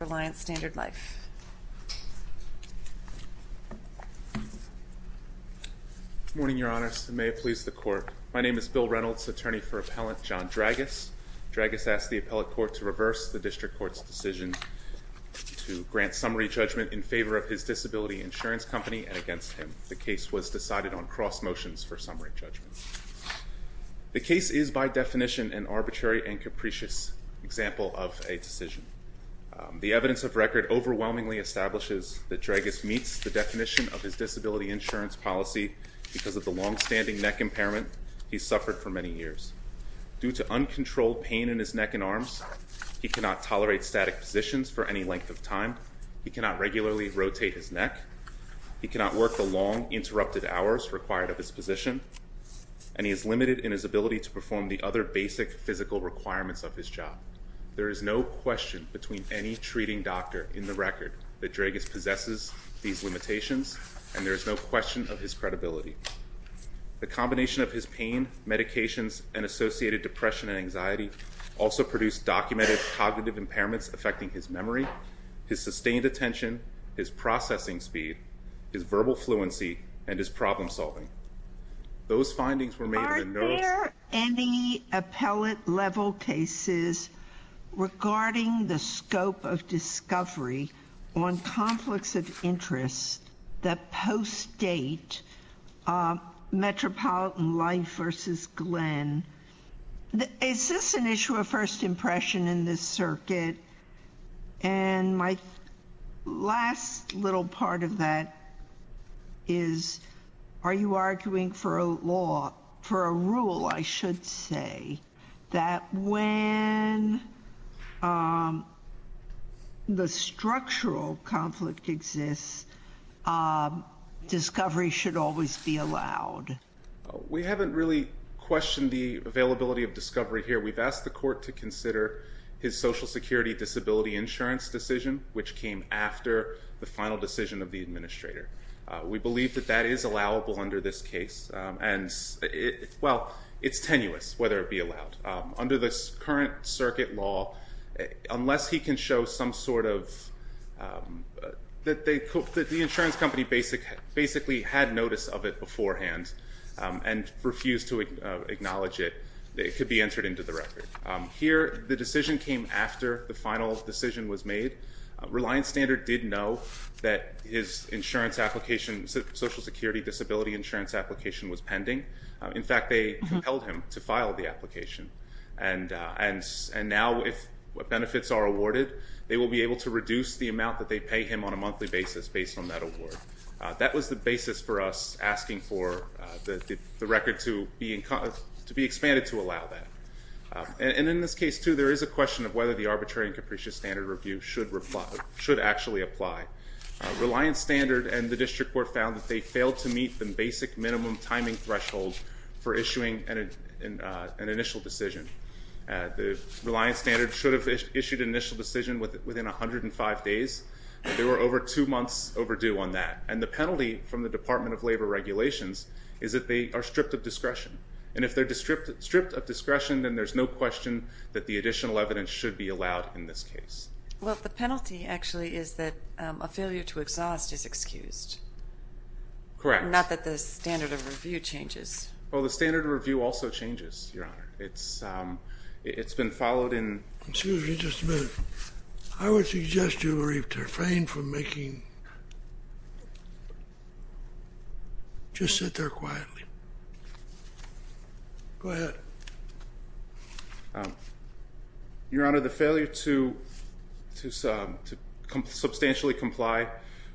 Good morning, Your Honors, and may it please the Court. My name is Bill Reynolds, attorney for Appellant John Dragus. Dragus asked the Appellate Court to reverse the District Court's decision to grant summary judgment in favor of his disability insurance company and against him. The case was decided on cross motions for summary judgment. The case is by definition an arbitrary and capricious example of a decision. The evidence of record overwhelmingly establishes that Dragus meets the definition of his disability insurance policy because of the long-standing neck impairment he's suffered for many years. Due to uncontrolled pain in his neck and arms, he cannot tolerate static positions for any length of time. He cannot regularly rotate his neck. He cannot work the long, interrupted hours required of his position. And he is limited in his ability to perform the other basic physical requirements of his job. There is no question between any treating doctor in the record that Dragus possesses these limitations, and there is no question of his credibility. The combination of his pain, medications, and associated depression and anxiety also produced documented cognitive impairments affecting his memory, his sustained attention, his processing speed, his verbal fluency, and his problem-solving. Those findings were made in the notice- Metropolitan Life versus Glenn. Is this an issue of first impression in this circuit? And my last little part of that is, are you arguing for a law, for a rule, I should say, that when the structural conflict exists, discovery should always be allowed? We haven't really questioned the availability of discovery here. We've asked the court to consider his Social Security Disability Insurance decision, which came after the final decision of the administrator. We believe that that is allowable under this case. And, well, it's tenuous whether it be allowed. Under this current circuit law, unless he can show some sort of, that the insurance company basically had notice of it beforehand and refused to acknowledge it, it could be entered into the record. Here, the decision came after the final decision was made. Reliance Standard did know that his insurance application, Social Security Disability Insurance application was pending. In fact, they compelled him to file the application. And now, if benefits are awarded, they will be able to reduce the amount that they pay him on a monthly basis based on that award. That was the basis for us asking for the record to be expanded to allow that. And in this case, too, there is a question of whether the arbitrary and capricious standard review should actually apply. Reliance Standard and the district court found that they failed to meet the basic minimum timing threshold for issuing an initial decision. Reliance Standard should have issued an initial decision within 105 days. They were over two months overdue on that. And the penalty from the Department of Labor regulations is that they are stripped of discretion. And if they're stripped of discretion, then there's no question that the additional evidence should be allowed in this case. Well, the penalty actually is that a failure to exhaust is excused. Correct. Not that the standard of review changes. Well, the standard of review also changes, Your Honor. It's been followed in. Excuse me just a minute. I would suggest you refrain from making. Just sit there quietly. Go ahead. Your Honor, the failure to substantially comply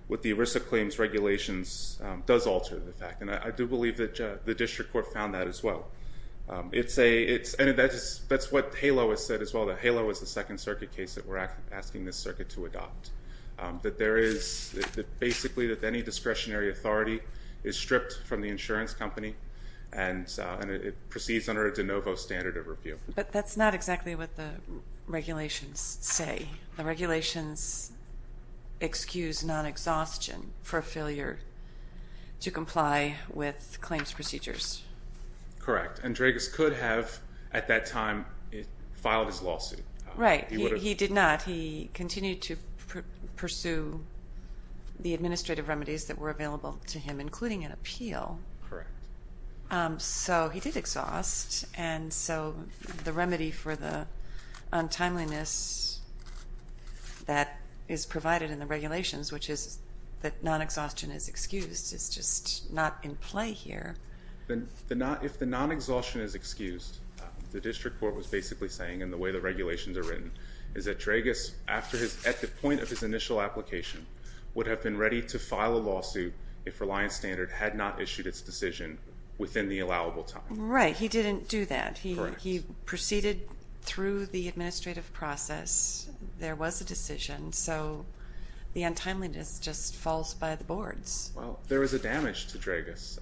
with the ERISA claims regulations does alter the fact. And I do believe that the district court found that as well. And that's what HALO has said as well, that HALO is the Second Circuit case that we're asking this circuit to adopt. That there is basically that any discretionary authority is stripped from the insurance company. And it proceeds under a de novo standard of review. But that's not exactly what the regulations say. The regulations excuse non-exhaustion for failure to comply with claims procedures. Correct. And Dregas could have, at that time, filed his lawsuit. Right. He did not. But he continued to pursue the administrative remedies that were available to him, including an appeal. Correct. So he did exhaust. And so the remedy for the untimeliness that is provided in the regulations, which is that non-exhaustion is excused, is just not in play here. If the non-exhaustion is excused, the district court was basically saying, and the way the regulations are written, is that Dregas, at the point of his initial application, would have been ready to file a lawsuit if Reliance Standard had not issued its decision within the allowable time. Right. He didn't do that. Correct. He proceeded through the administrative process. There was a decision. So the untimeliness just falls by the boards. Well, there was a damage to Dregas.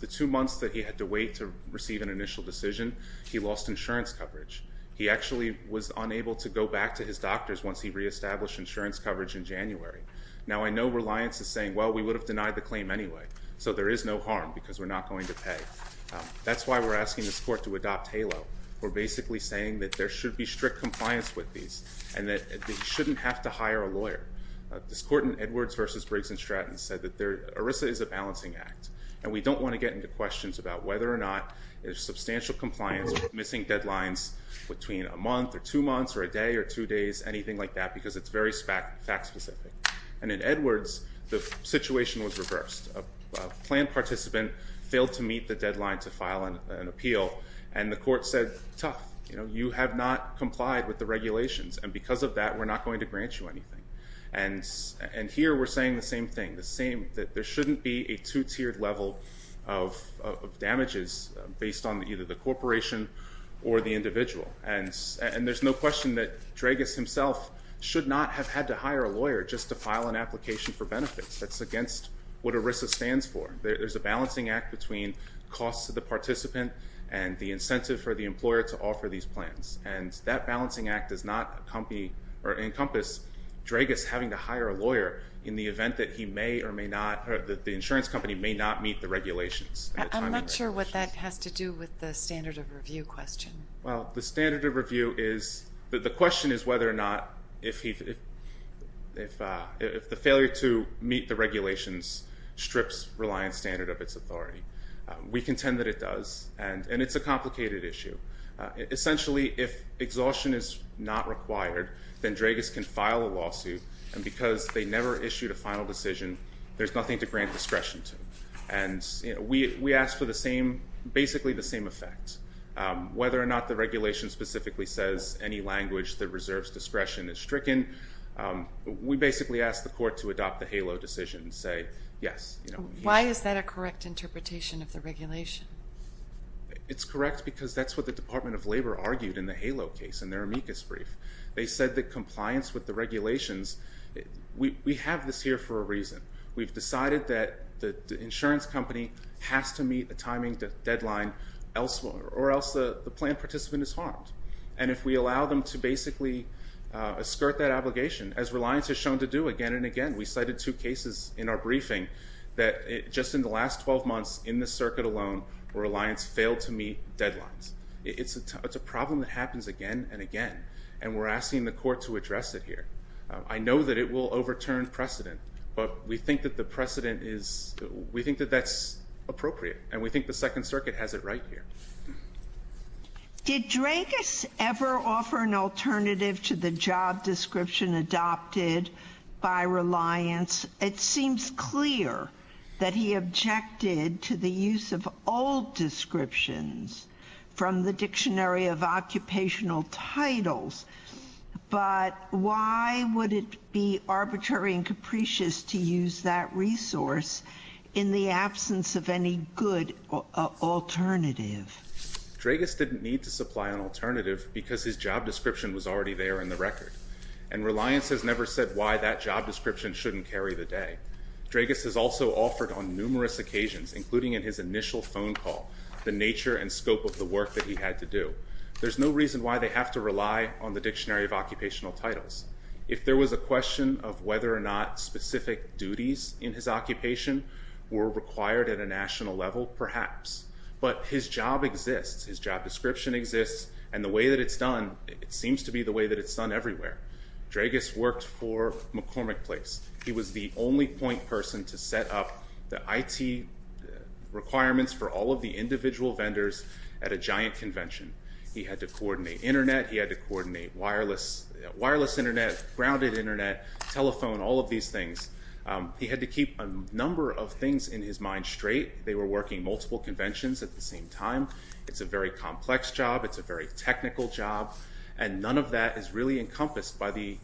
The two months that he had to wait to receive an initial decision, he lost insurance coverage. He actually was unable to go back to his doctors once he reestablished insurance coverage in January. Now, I know Reliance is saying, well, we would have denied the claim anyway, so there is no harm because we're not going to pay. That's why we're asking this court to adopt HALO. We're basically saying that there should be strict compliance with these and that he shouldn't have to hire a lawyer. This court in Edwards v. Briggs and Stratton said that ERISA is a balancing act, and we don't want to get into questions about whether or not there's substantial compliance with missing deadlines between a month or two months or a day or two days, anything like that, because it's very fact-specific. And in Edwards, the situation was reversed. A planned participant failed to meet the deadline to file an appeal, and the court said, tough, you have not complied with the regulations, and because of that, we're not going to grant you anything. And here, we're saying the same thing, that there shouldn't be a two-tiered level of damages based on either the corporation or the individual. And there's no question that Dragas himself should not have had to hire a lawyer just to file an application for benefits. That's against what ERISA stands for. There's a balancing act between costs to the participant and the incentive for the employer to offer these plans, and that balancing act does not encompass Dragas having to hire a lawyer in the event that he may or may not, or that the insurance company may not meet the regulations. I'm not sure what that has to do with the standard of review question. Well, the standard of review is, the question is whether or not if the failure to meet the regulations strips Reliance Standard of its authority. We contend that it does, and it's a complicated issue. Essentially, if exhaustion is not required, then Dragas can file a lawsuit, and because they never issued a final decision, there's nothing to grant discretion to. And we ask for the same, basically the same effect. Whether or not the regulation specifically says any language that reserves discretion is stricken, we basically ask the court to adopt the HALO decision and say yes. Why is that a correct interpretation of the regulation? It's correct because that's what the Department of Labor argued in the HALO case in their amicus brief. They said that compliance with the regulations, we have this here for a reason. We've decided that the insurance company has to meet a timing deadline or else the plan participant is harmed. And if we allow them to basically skirt that obligation, as Reliance has shown to do again and again, we cited two cases in our briefing that just in the last 12 months in the circuit alone, Reliance failed to meet deadlines. It's a problem that happens again and again, and we're asking the court to address it here. I know that it will overturn precedent, but we think that the precedent is, we think that that's appropriate, and we think the Second Circuit has it right here. Did Dreykus ever offer an alternative to the job description adopted by Reliance? It seems clear that he objected to the use of old descriptions from the Dictionary of Occupational Titles, but why would it be arbitrary and capricious to use that resource in the absence of any good alternative? Dreykus didn't need to supply an alternative because his job description was already there in the record, and Reliance has never said why that job description shouldn't carry the day. Dreykus has also offered on numerous occasions, including in his initial phone call, the nature and scope of the work that he had to do. There's no reason why they have to rely on the Dictionary of Occupational Titles. If there was a question of whether or not specific duties in his occupation were required at a national level, perhaps. But his job exists, his job description exists, and the way that it's done, it seems to be the way that it's done everywhere. Dreykus worked for McCormick Place. He was the only point person to set up the IT requirements for all of the individual vendors at a giant convention. He had to coordinate internet, he had to coordinate wireless internet, grounded internet, telephone, all of these things. He had to keep a number of things in his mind straight. They were working multiple conventions at the same time. It's a very complex job, it's a very technical job, and none of that is really encompassed by the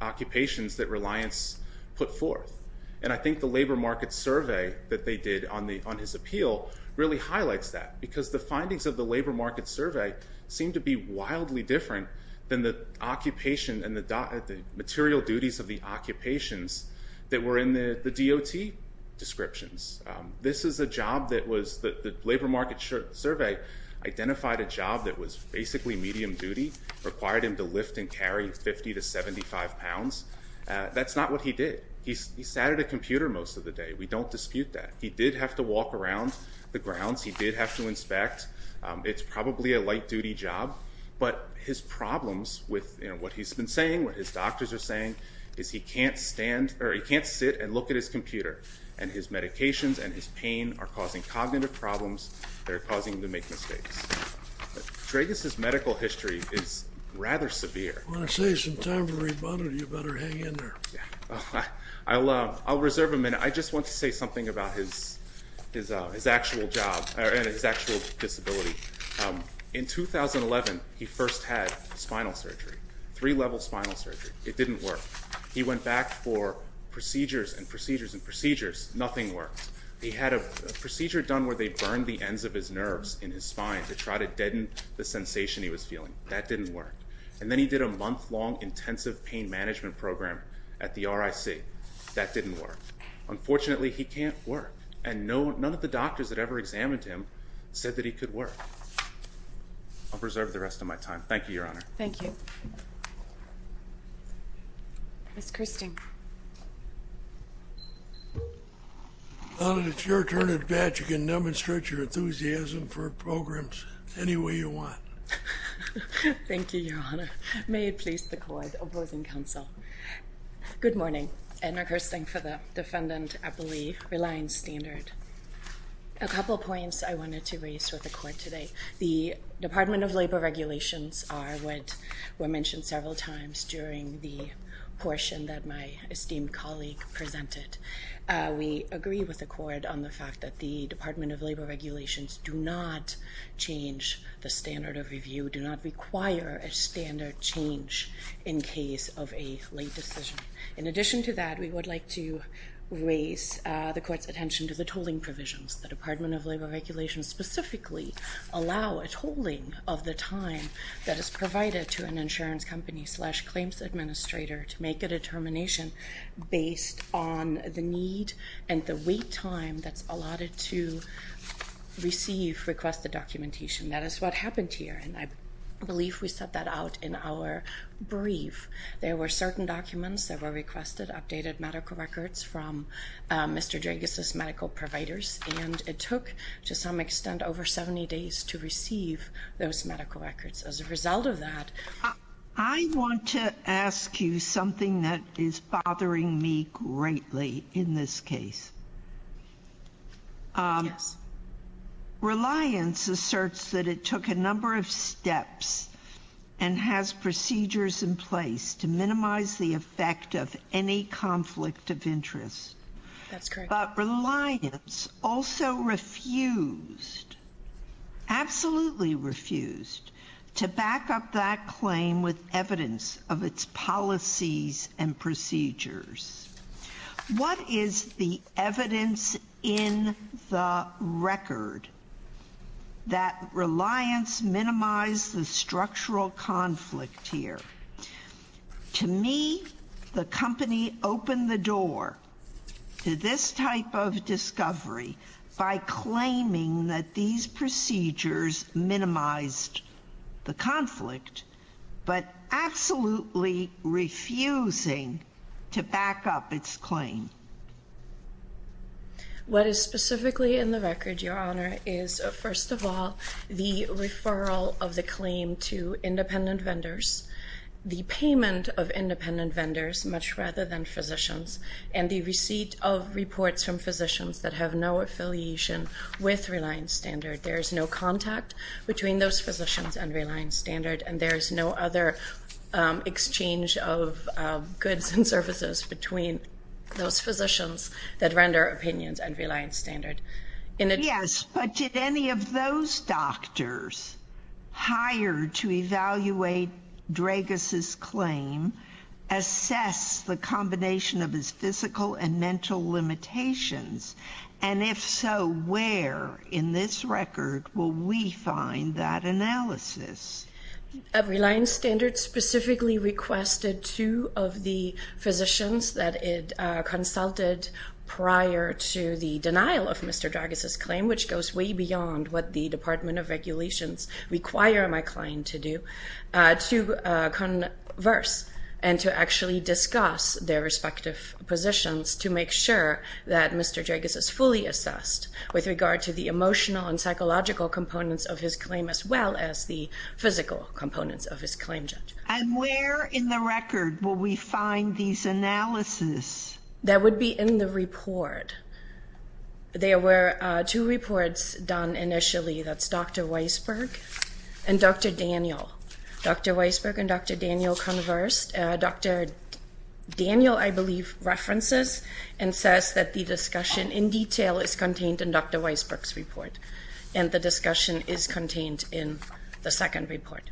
occupations that Reliance put forth. And I think the labor market survey that they did on his appeal really highlights that, because the findings of the labor market survey seem to be wildly different than the occupation and the material duties of the occupations that were in the DOT descriptions. The labor market survey identified a job that was basically medium duty, required him to lift and carry 50 to 75 pounds. That's not what he did. He sat at a computer most of the day, we don't dispute that. He did have to walk around the grounds, he did have to inspect. It's probably a light duty job, but his problems with what he's been saying, what his doctors are saying, is he can't sit and look at his computer. And his medications and his pain are causing cognitive problems. They're causing him to make mistakes. Dragus's medical history is rather severe. I want to save some time for the rebuttal, you better hang in there. I'll reserve a minute. I just want to say something about his actual job and his actual disability. In 2011, he first had spinal surgery, three-level spinal surgery. It didn't work. He went back for procedures and procedures and procedures, nothing worked. He had a procedure done where they burned the ends of his nerves in his spine to try to deaden the sensation he was feeling. That didn't work. And then he did a month-long intensive pain management program at the RIC. That didn't work. Unfortunately, he can't work, and none of the doctors that ever examined him said that he could work. I'll preserve the rest of my time. Thank you, Your Honor. Thank you. Ms. Kirsting. It's your turn at bat. You can demonstrate your enthusiasm for programs any way you want. Thank you, Your Honor. May it please the Court opposing counsel. Good morning. Edna Kirsting for the defendant, I believe, relying standard. A couple points I wanted to raise with the Court today. The Department of Labor regulations are what were mentioned several times during the portion that my esteemed colleague presented. We agree with the Court on the fact that the Department of Labor regulations do not change the standard of review, do not require a standard change in case of a late decision. In addition to that, we would like to raise the Court's attention to the tolling provisions. The Department of Labor regulations specifically allow a tolling of the time that is provided to an insurance company slash claims administrator to make a determination based on the need and the wait time that's allotted to receive requested documentation. That is what happened here, and I believe we set that out in our brief. There were certain documents that were requested, updated medical records from Mr. Dreges' medical providers, and it took, to some extent, over 70 days to receive those medical records. As a result of that, I want to ask you something that is bothering me greatly in this case. Yes. and has procedures in place to minimize the effect of any conflict of interest. That's correct. But Reliance also refused, absolutely refused, to back up that claim with evidence of its policies and procedures. What is the evidence in the record that Reliance minimized the structural conflict here? To me, the company opened the door to this type of discovery by claiming that these procedures minimized the conflict, but absolutely refusing to back up its claim. What is specifically in the record, Your Honor, is first of all the referral of the claim to independent vendors, the payment of independent vendors much rather than physicians, and the receipt of reports from physicians that have no affiliation with Reliance Standard. There is no contact between those physicians and Reliance Standard, and there is no other exchange of goods and services between those physicians that render opinions at Reliance Standard. Yes, but did any of those doctors hired to evaluate Dragas' claim assess the combination of his physical and mental limitations? And if so, where in this record will we find that analysis? Reliance Standard specifically requested two of the physicians that it consulted prior to the denial of Mr. Dragas' claim, which goes way beyond what the Department of Regulations require my client to do, to converse and to actually discuss their respective positions to make sure that Mr. Dragas is fully assessed with regard to the emotional and psychological components of his claim as well as the physical components of his claim, Judge. And where in the record will we find these analyses? That would be in the report. There were two reports done initially. That's Dr. Weisberg and Dr. Daniel. Dr. Weisberg and Dr. Daniel conversed. Dr. Daniel, I believe, references and says that the discussion in detail is contained in Dr. Weisberg's report, and the discussion is contained in the second report.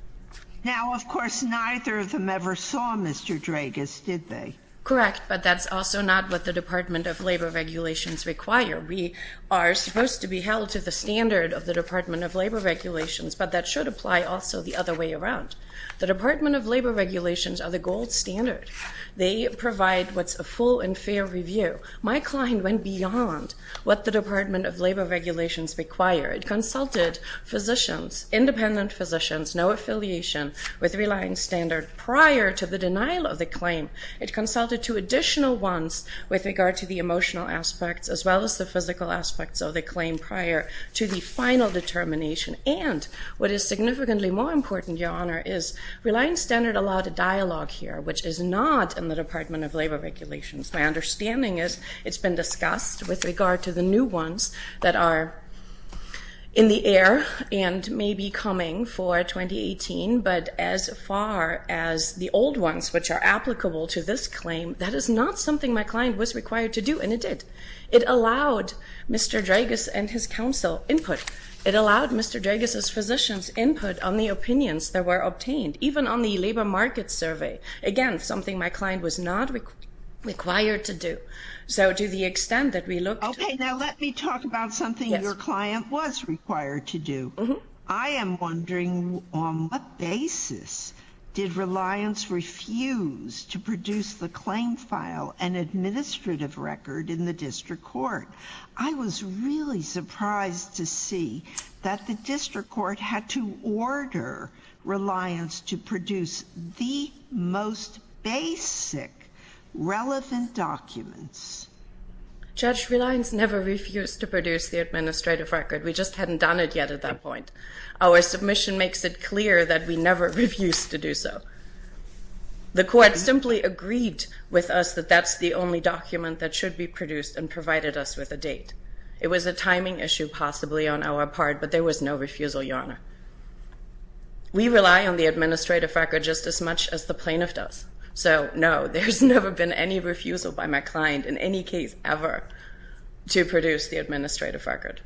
Now, of course, neither of them ever saw Mr. Dragas, did they? Correct, but that's also not what the Department of Labor Regulations require. We are supposed to be held to the standard of the Department of Labor Regulations, but that should apply also the other way around. The Department of Labor Regulations are the gold standard. They provide what's a full and fair review. My client went beyond what the Department of Labor Regulations required. It consulted physicians, independent physicians, no affiliation with relying standard prior to the denial of the claim. It consulted two additional ones with regard to the emotional aspects as well as the physical aspects of the claim prior to the final determination. And what is significantly more important, Your Honor, is relying standard allowed a dialogue here, which is not in the Department of Labor Regulations. My understanding is it's been discussed with regard to the new ones that are in the air and may be coming for 2018, but as far as the old ones which are applicable to this claim, that is not something my client was required to do, and it did. It allowed Mr. Dragas and his counsel input. It allowed Mr. Dragas' physicians input on the opinions that were obtained, even on the labor market survey. Again, something my client was not required to do. So to the extent that we look to. Okay, now let me talk about something your client was required to do. I am wondering on what basis did Reliance refuse to produce the claim file and administrative record in the district court. I was really surprised to see that the district court had to order Reliance to produce the most basic relevant documents. Judge, Reliance never refused to produce the administrative record. We just hadn't done it yet at that point. Our submission makes it clear that we never refused to do so. The court simply agreed with us that that's the only document that should be produced and provided us with a date. It was a timing issue possibly on our part, but there was no refusal, Your Honor. We rely on the administrative record just as much as the plaintiff does. So, no, there's never been any refusal by my client in any case ever to produce the administrative record.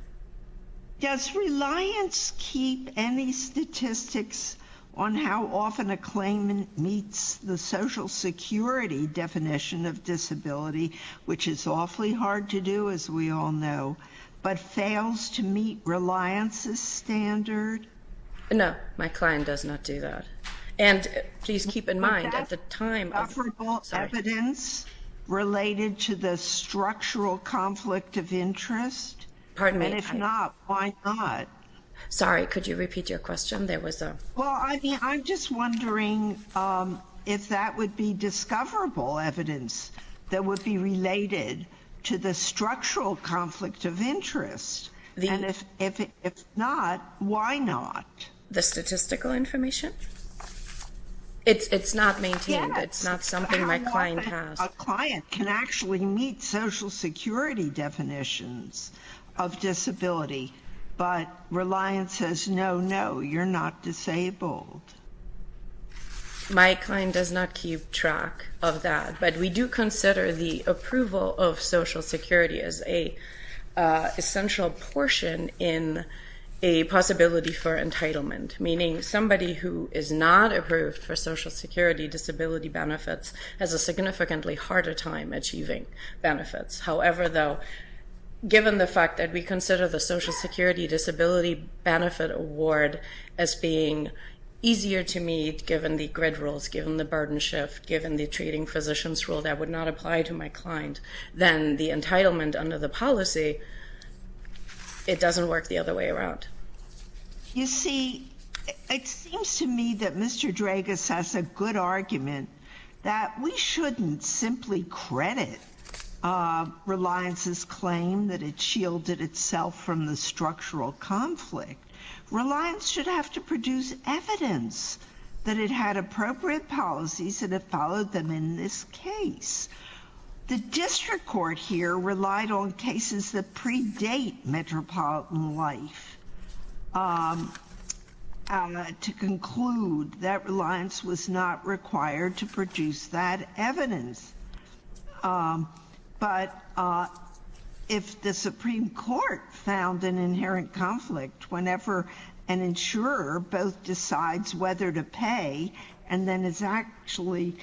Does Reliance keep any statistics on how often a claim meets the Social Security definition of disability, which is awfully hard to do as we all know, but fails to meet Reliance's standard? No, my client does not do that. And please keep in mind at the time of... Do you have comparable evidence related to the structural conflict of interest? Pardon me? And if not, why not? Sorry, could you repeat your question? Well, I'm just wondering if that would be discoverable evidence that would be related to the structural conflict of interest. And if not, why not? The statistical information? It's not maintained. It's not something my client has. A client can actually meet Social Security definitions of disability, but Reliance says, no, no, you're not disabled. My client does not keep track of that. But we do consider the approval of Social Security as an essential portion in a possibility for entitlement, meaning somebody who is not approved for Social Security disability benefits has a significantly harder time achieving benefits. However, though, given the fact that we consider the Social Security Disability Benefit Award as being easier to meet given the grid rules, given the burden shift, given the treating physicians rule that would not apply to my client than the entitlement under the policy, it doesn't work the other way around. You see, it seems to me that Mr. Dragas has a good argument that we shouldn't simply credit Reliance's claim that it shielded itself from the structural conflict. Reliance should have to produce evidence that it had appropriate policies and it followed them in this case. The district court here relied on cases that predate metropolitan life to conclude that Reliance was not required to produce that evidence. But if the Supreme Court found an inherent conflict whenever an insurer both decides whether to pay and then is actually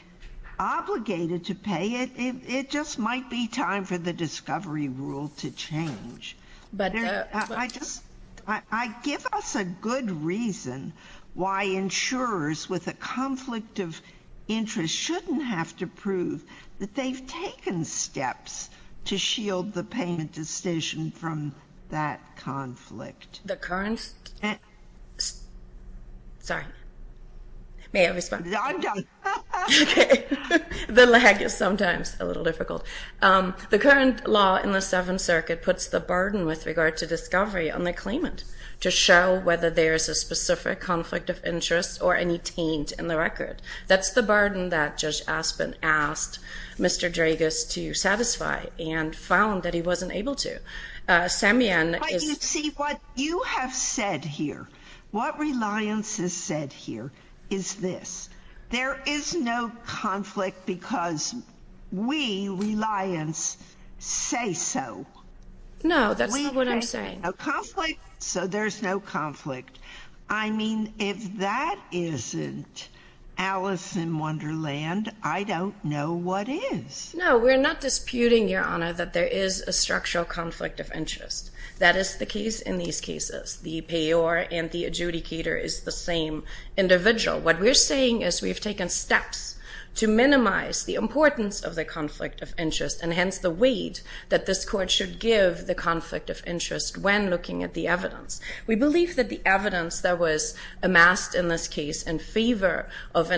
obligated to pay, it just might be time for the discovery rule to change. I give us a good reason why insurers with a conflict of interest shouldn't have to prove that they've taken steps to shield the payment decision from that conflict. The current... Sorry. May I respond? The lag is sometimes a little difficult. The current law in the Seventh Circuit puts the burden with regard to discovery on the claimant to show whether there is a specific conflict of interest or any taint in the record. That's the burden that Judge Aspin asked Mr. Dragas to satisfy and found that he wasn't able to. Samian is... But you see, what you have said here, what Reliance has said here is this. There is no conflict because we, Reliance, say so. No, that's not what I'm saying. We say there's no conflict, so there's no conflict. I mean, if that isn't Alice in Wonderland, I don't know what is. No, we're not disputing, Your Honor, that there is a structural conflict of interest. That is the case in these cases. The payor and the adjudicator is the same individual. What we're saying is we've taken steps to minimize the importance of the conflict of interest and hence the weight that this Court should give the conflict of interest when looking at the evidence. We believe that the evidence that was amassed in this case in favor of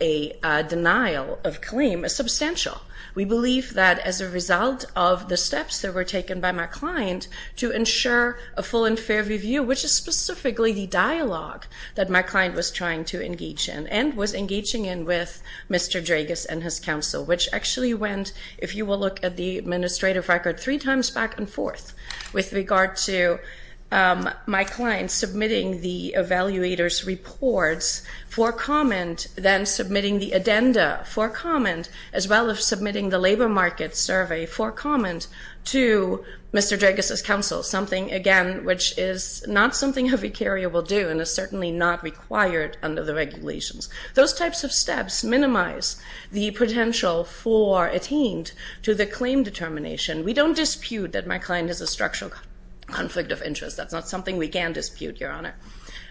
a denial of claim is substantial. We believe that as a result of the steps that were taken by my client to ensure a full and fair review, which is specifically the dialogue that my client was trying to engage in and was engaging in with Mr. Dragas and his counsel, which actually went, if you will look at the administrative record, three times back and forth with regard to my client submitting the evaluator's reports for comment, then submitting the addenda for comment, as well as submitting the labor market survey for comment to Mr. Dragas' counsel, something, again, which is not something a vicaria will do and is certainly not required under the regulations. Those types of steps minimize the potential for attained to the claim determination. We don't dispute that my client has a structural conflict of interest. That's not something we can dispute, Your Honor.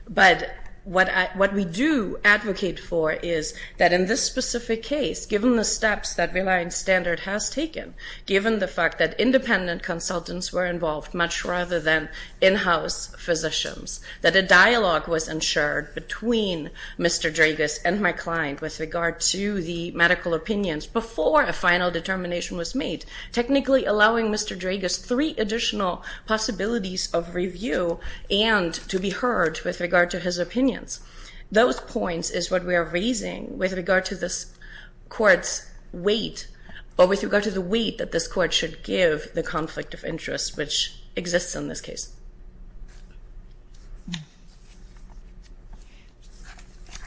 But what we do advocate for is that in this specific case, given the steps that Reliance Standard has taken, given the fact that independent consultants were involved much rather than in-house physicians, that a dialogue was ensured between Mr. Dragas and my client with regard to the medical opinions before a final determination was made, technically allowing Mr. Dragas three additional possibilities of review and to be heard with regard to his opinions. Those points is what we are raising with regard to this court's weight, but with regard to the weight that this court should give the conflict of interest, which exists in this case.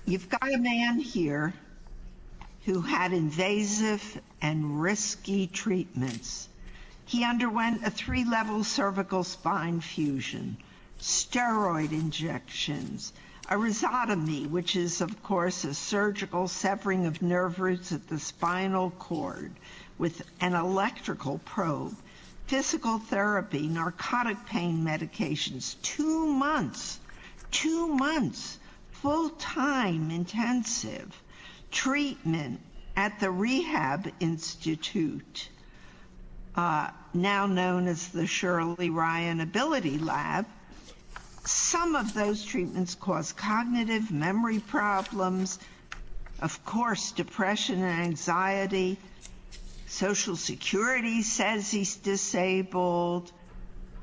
You've got a man here who had invasive and risky treatments. He underwent a three-level cervical spine fusion, steroid injections, a rhizotomy, which is, of course, a surgical severing of nerve roots at the spinal cord with an electrical probe, physical therapy, narcotic pain medications, two months, two months, full-time intensive treatment at the Rehab Institute, now known as the Shirley Ryan Ability Lab. Some of those treatments cause cognitive memory problems, of course, depression and anxiety. Social Security says he's disabled.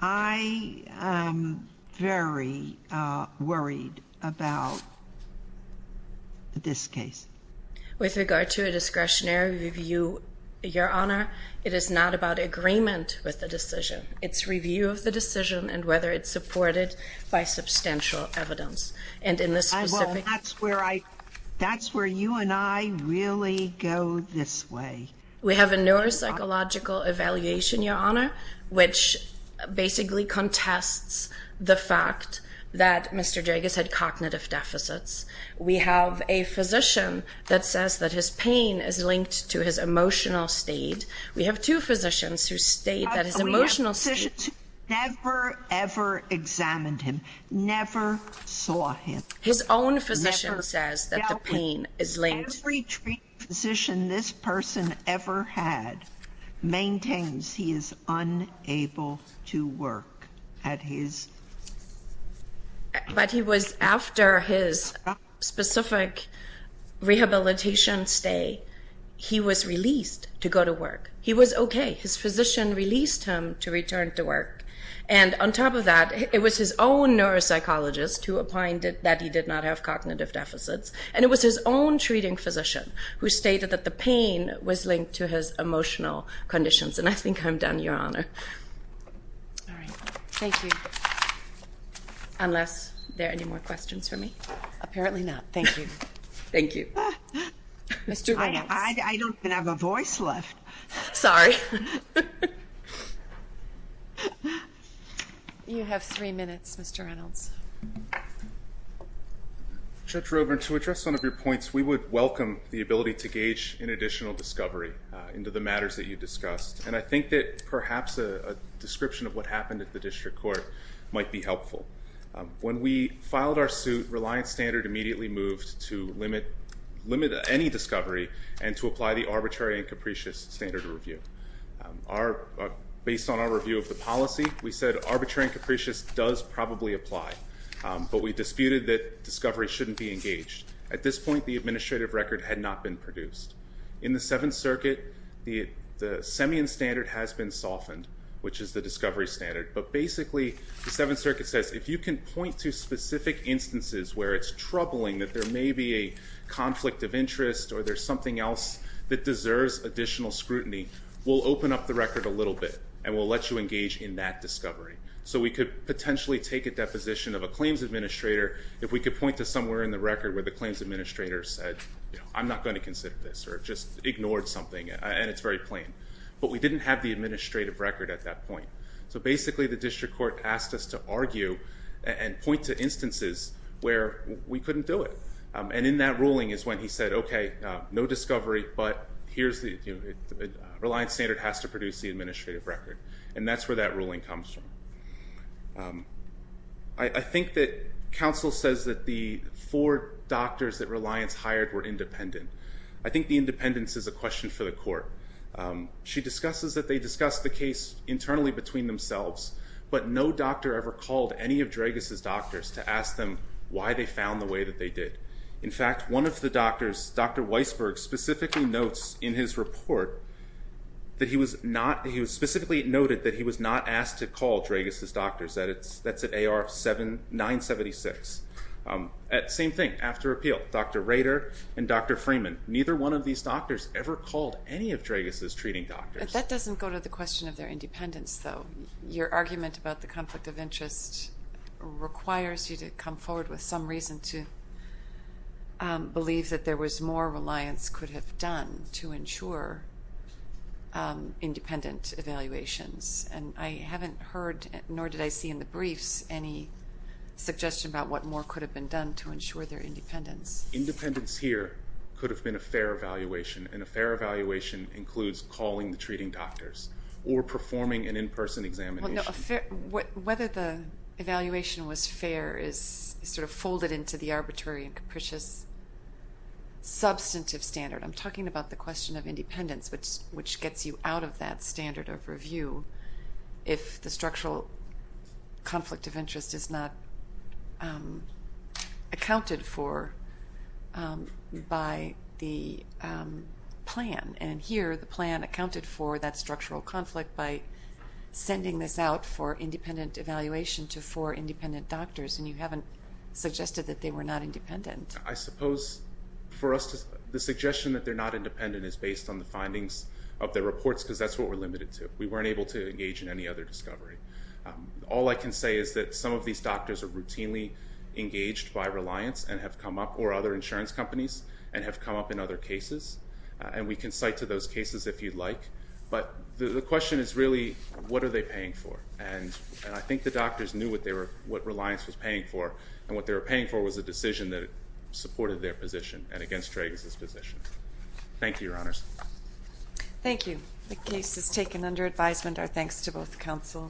I am very worried about this case. With regard to a discretionary review, Your Honor, it is not about agreement with the decision. It's review of the decision and whether it's supported by substantial evidence. Well, that's where you and I really go this way. We have a neuropsychological evaluation, Your Honor, which basically contests the fact that Mr. Dragas had cognitive deficits. We have a physician that says that his pain is linked to his emotional state. We have two physicians who state that his emotional state... We have physicians who never, ever examined him, never saw him. His own physician says that the pain is linked. Every treating physician this person ever had maintains he is unable to work at his... But he was, after his specific rehabilitation stay, he was released to go to work. He was okay. His physician released him to return to work. And on top of that, it was his own neuropsychologist who opined that he did not have cognitive deficits, and it was his own treating physician who stated that the pain was linked to his emotional conditions. And I think I'm done, Your Honor. All right. Thank you. Unless there are any more questions for me? Apparently not. Thank you. Thank you. Mr. Reynolds. I don't even have a voice left. Sorry. You have three minutes, Mr. Reynolds. Judge Roeburn, to address some of your points, we would welcome the ability to gauge an additional discovery into the matters that you discussed. And I think that perhaps a description of what happened at the district court might be helpful. When we filed our suit, Reliance Standard immediately moved to limit any discovery and to apply the arbitrary and capricious standard of review. Based on our review of the policy, we said arbitrary and capricious does probably apply. But we disputed that discovery shouldn't be engaged. At this point, the administrative record had not been produced. In the Seventh Circuit, the Semian standard has been softened, which is the discovery standard. But basically, the Seventh Circuit says, if you can point to specific instances where it's troubling that there may be a conflict of interest or there's something else that deserves additional scrutiny, we'll open up the record a little bit and we'll let you engage in that discovery. So we could potentially take a deposition of a claims administrator if we could point to somewhere in the record where the claims administrator said, I'm not going to consider this or just ignored something, and it's very plain. But we didn't have the administrative record at that point. So basically, the district court asked us to argue and point to instances where we couldn't do it. And in that ruling is when he said, okay, no discovery, but Reliance Standard has to produce the administrative record. And that's where that ruling comes from. I think that counsel says that the four doctors that Reliance hired were independent. I think the independence is a question for the court. She discusses that they discussed the case internally between themselves, but no doctor ever called any of Dragas' doctors to ask them why they found the way that they did. In fact, one of the doctors, Dr. Weisberg, specifically notes in his report that he was not asked to call Dragas' doctors. That's at AR-976. Same thing, after appeal, Dr. Rader and Dr. Freeman, neither one of these doctors ever called any of Dragas' treating doctors. But that doesn't go to the question of their independence, though. Your argument about the conflict of interest requires you to come forward with some reason to believe that there was more Reliance could have done to ensure independent evaluations. And I haven't heard, nor did I see in the briefs, any suggestion about what more could have been done to ensure their independence. Independence here could have been a fair evaluation, and a fair evaluation includes calling the treating doctors or performing an in-person examination. Whether the evaluation was fair is sort of folded into the arbitrary and capricious substantive standard. I'm talking about the question of independence, which gets you out of that standard of review if the structural conflict of interest is not accounted for by the plan. And here, the plan accounted for that structural conflict by sending this out for independent evaluation to four independent doctors, and you haven't suggested that they were not independent. I suppose for us, the suggestion that they're not independent is based on the findings of their reports, because that's what we're limited to. We weren't able to engage in any other discovery. All I can say is that some of these doctors are routinely engaged by Reliance, or other insurance companies, and have come up in other cases. And we can cite to those cases if you'd like. But the question is really, what are they paying for? And I think the doctors knew what Reliance was paying for, and what they were paying for was a decision that supported their position, and against Trages' position. Thank you, Your Honours. Thank you. The case is taken under advisement. Our thanks to both counsel.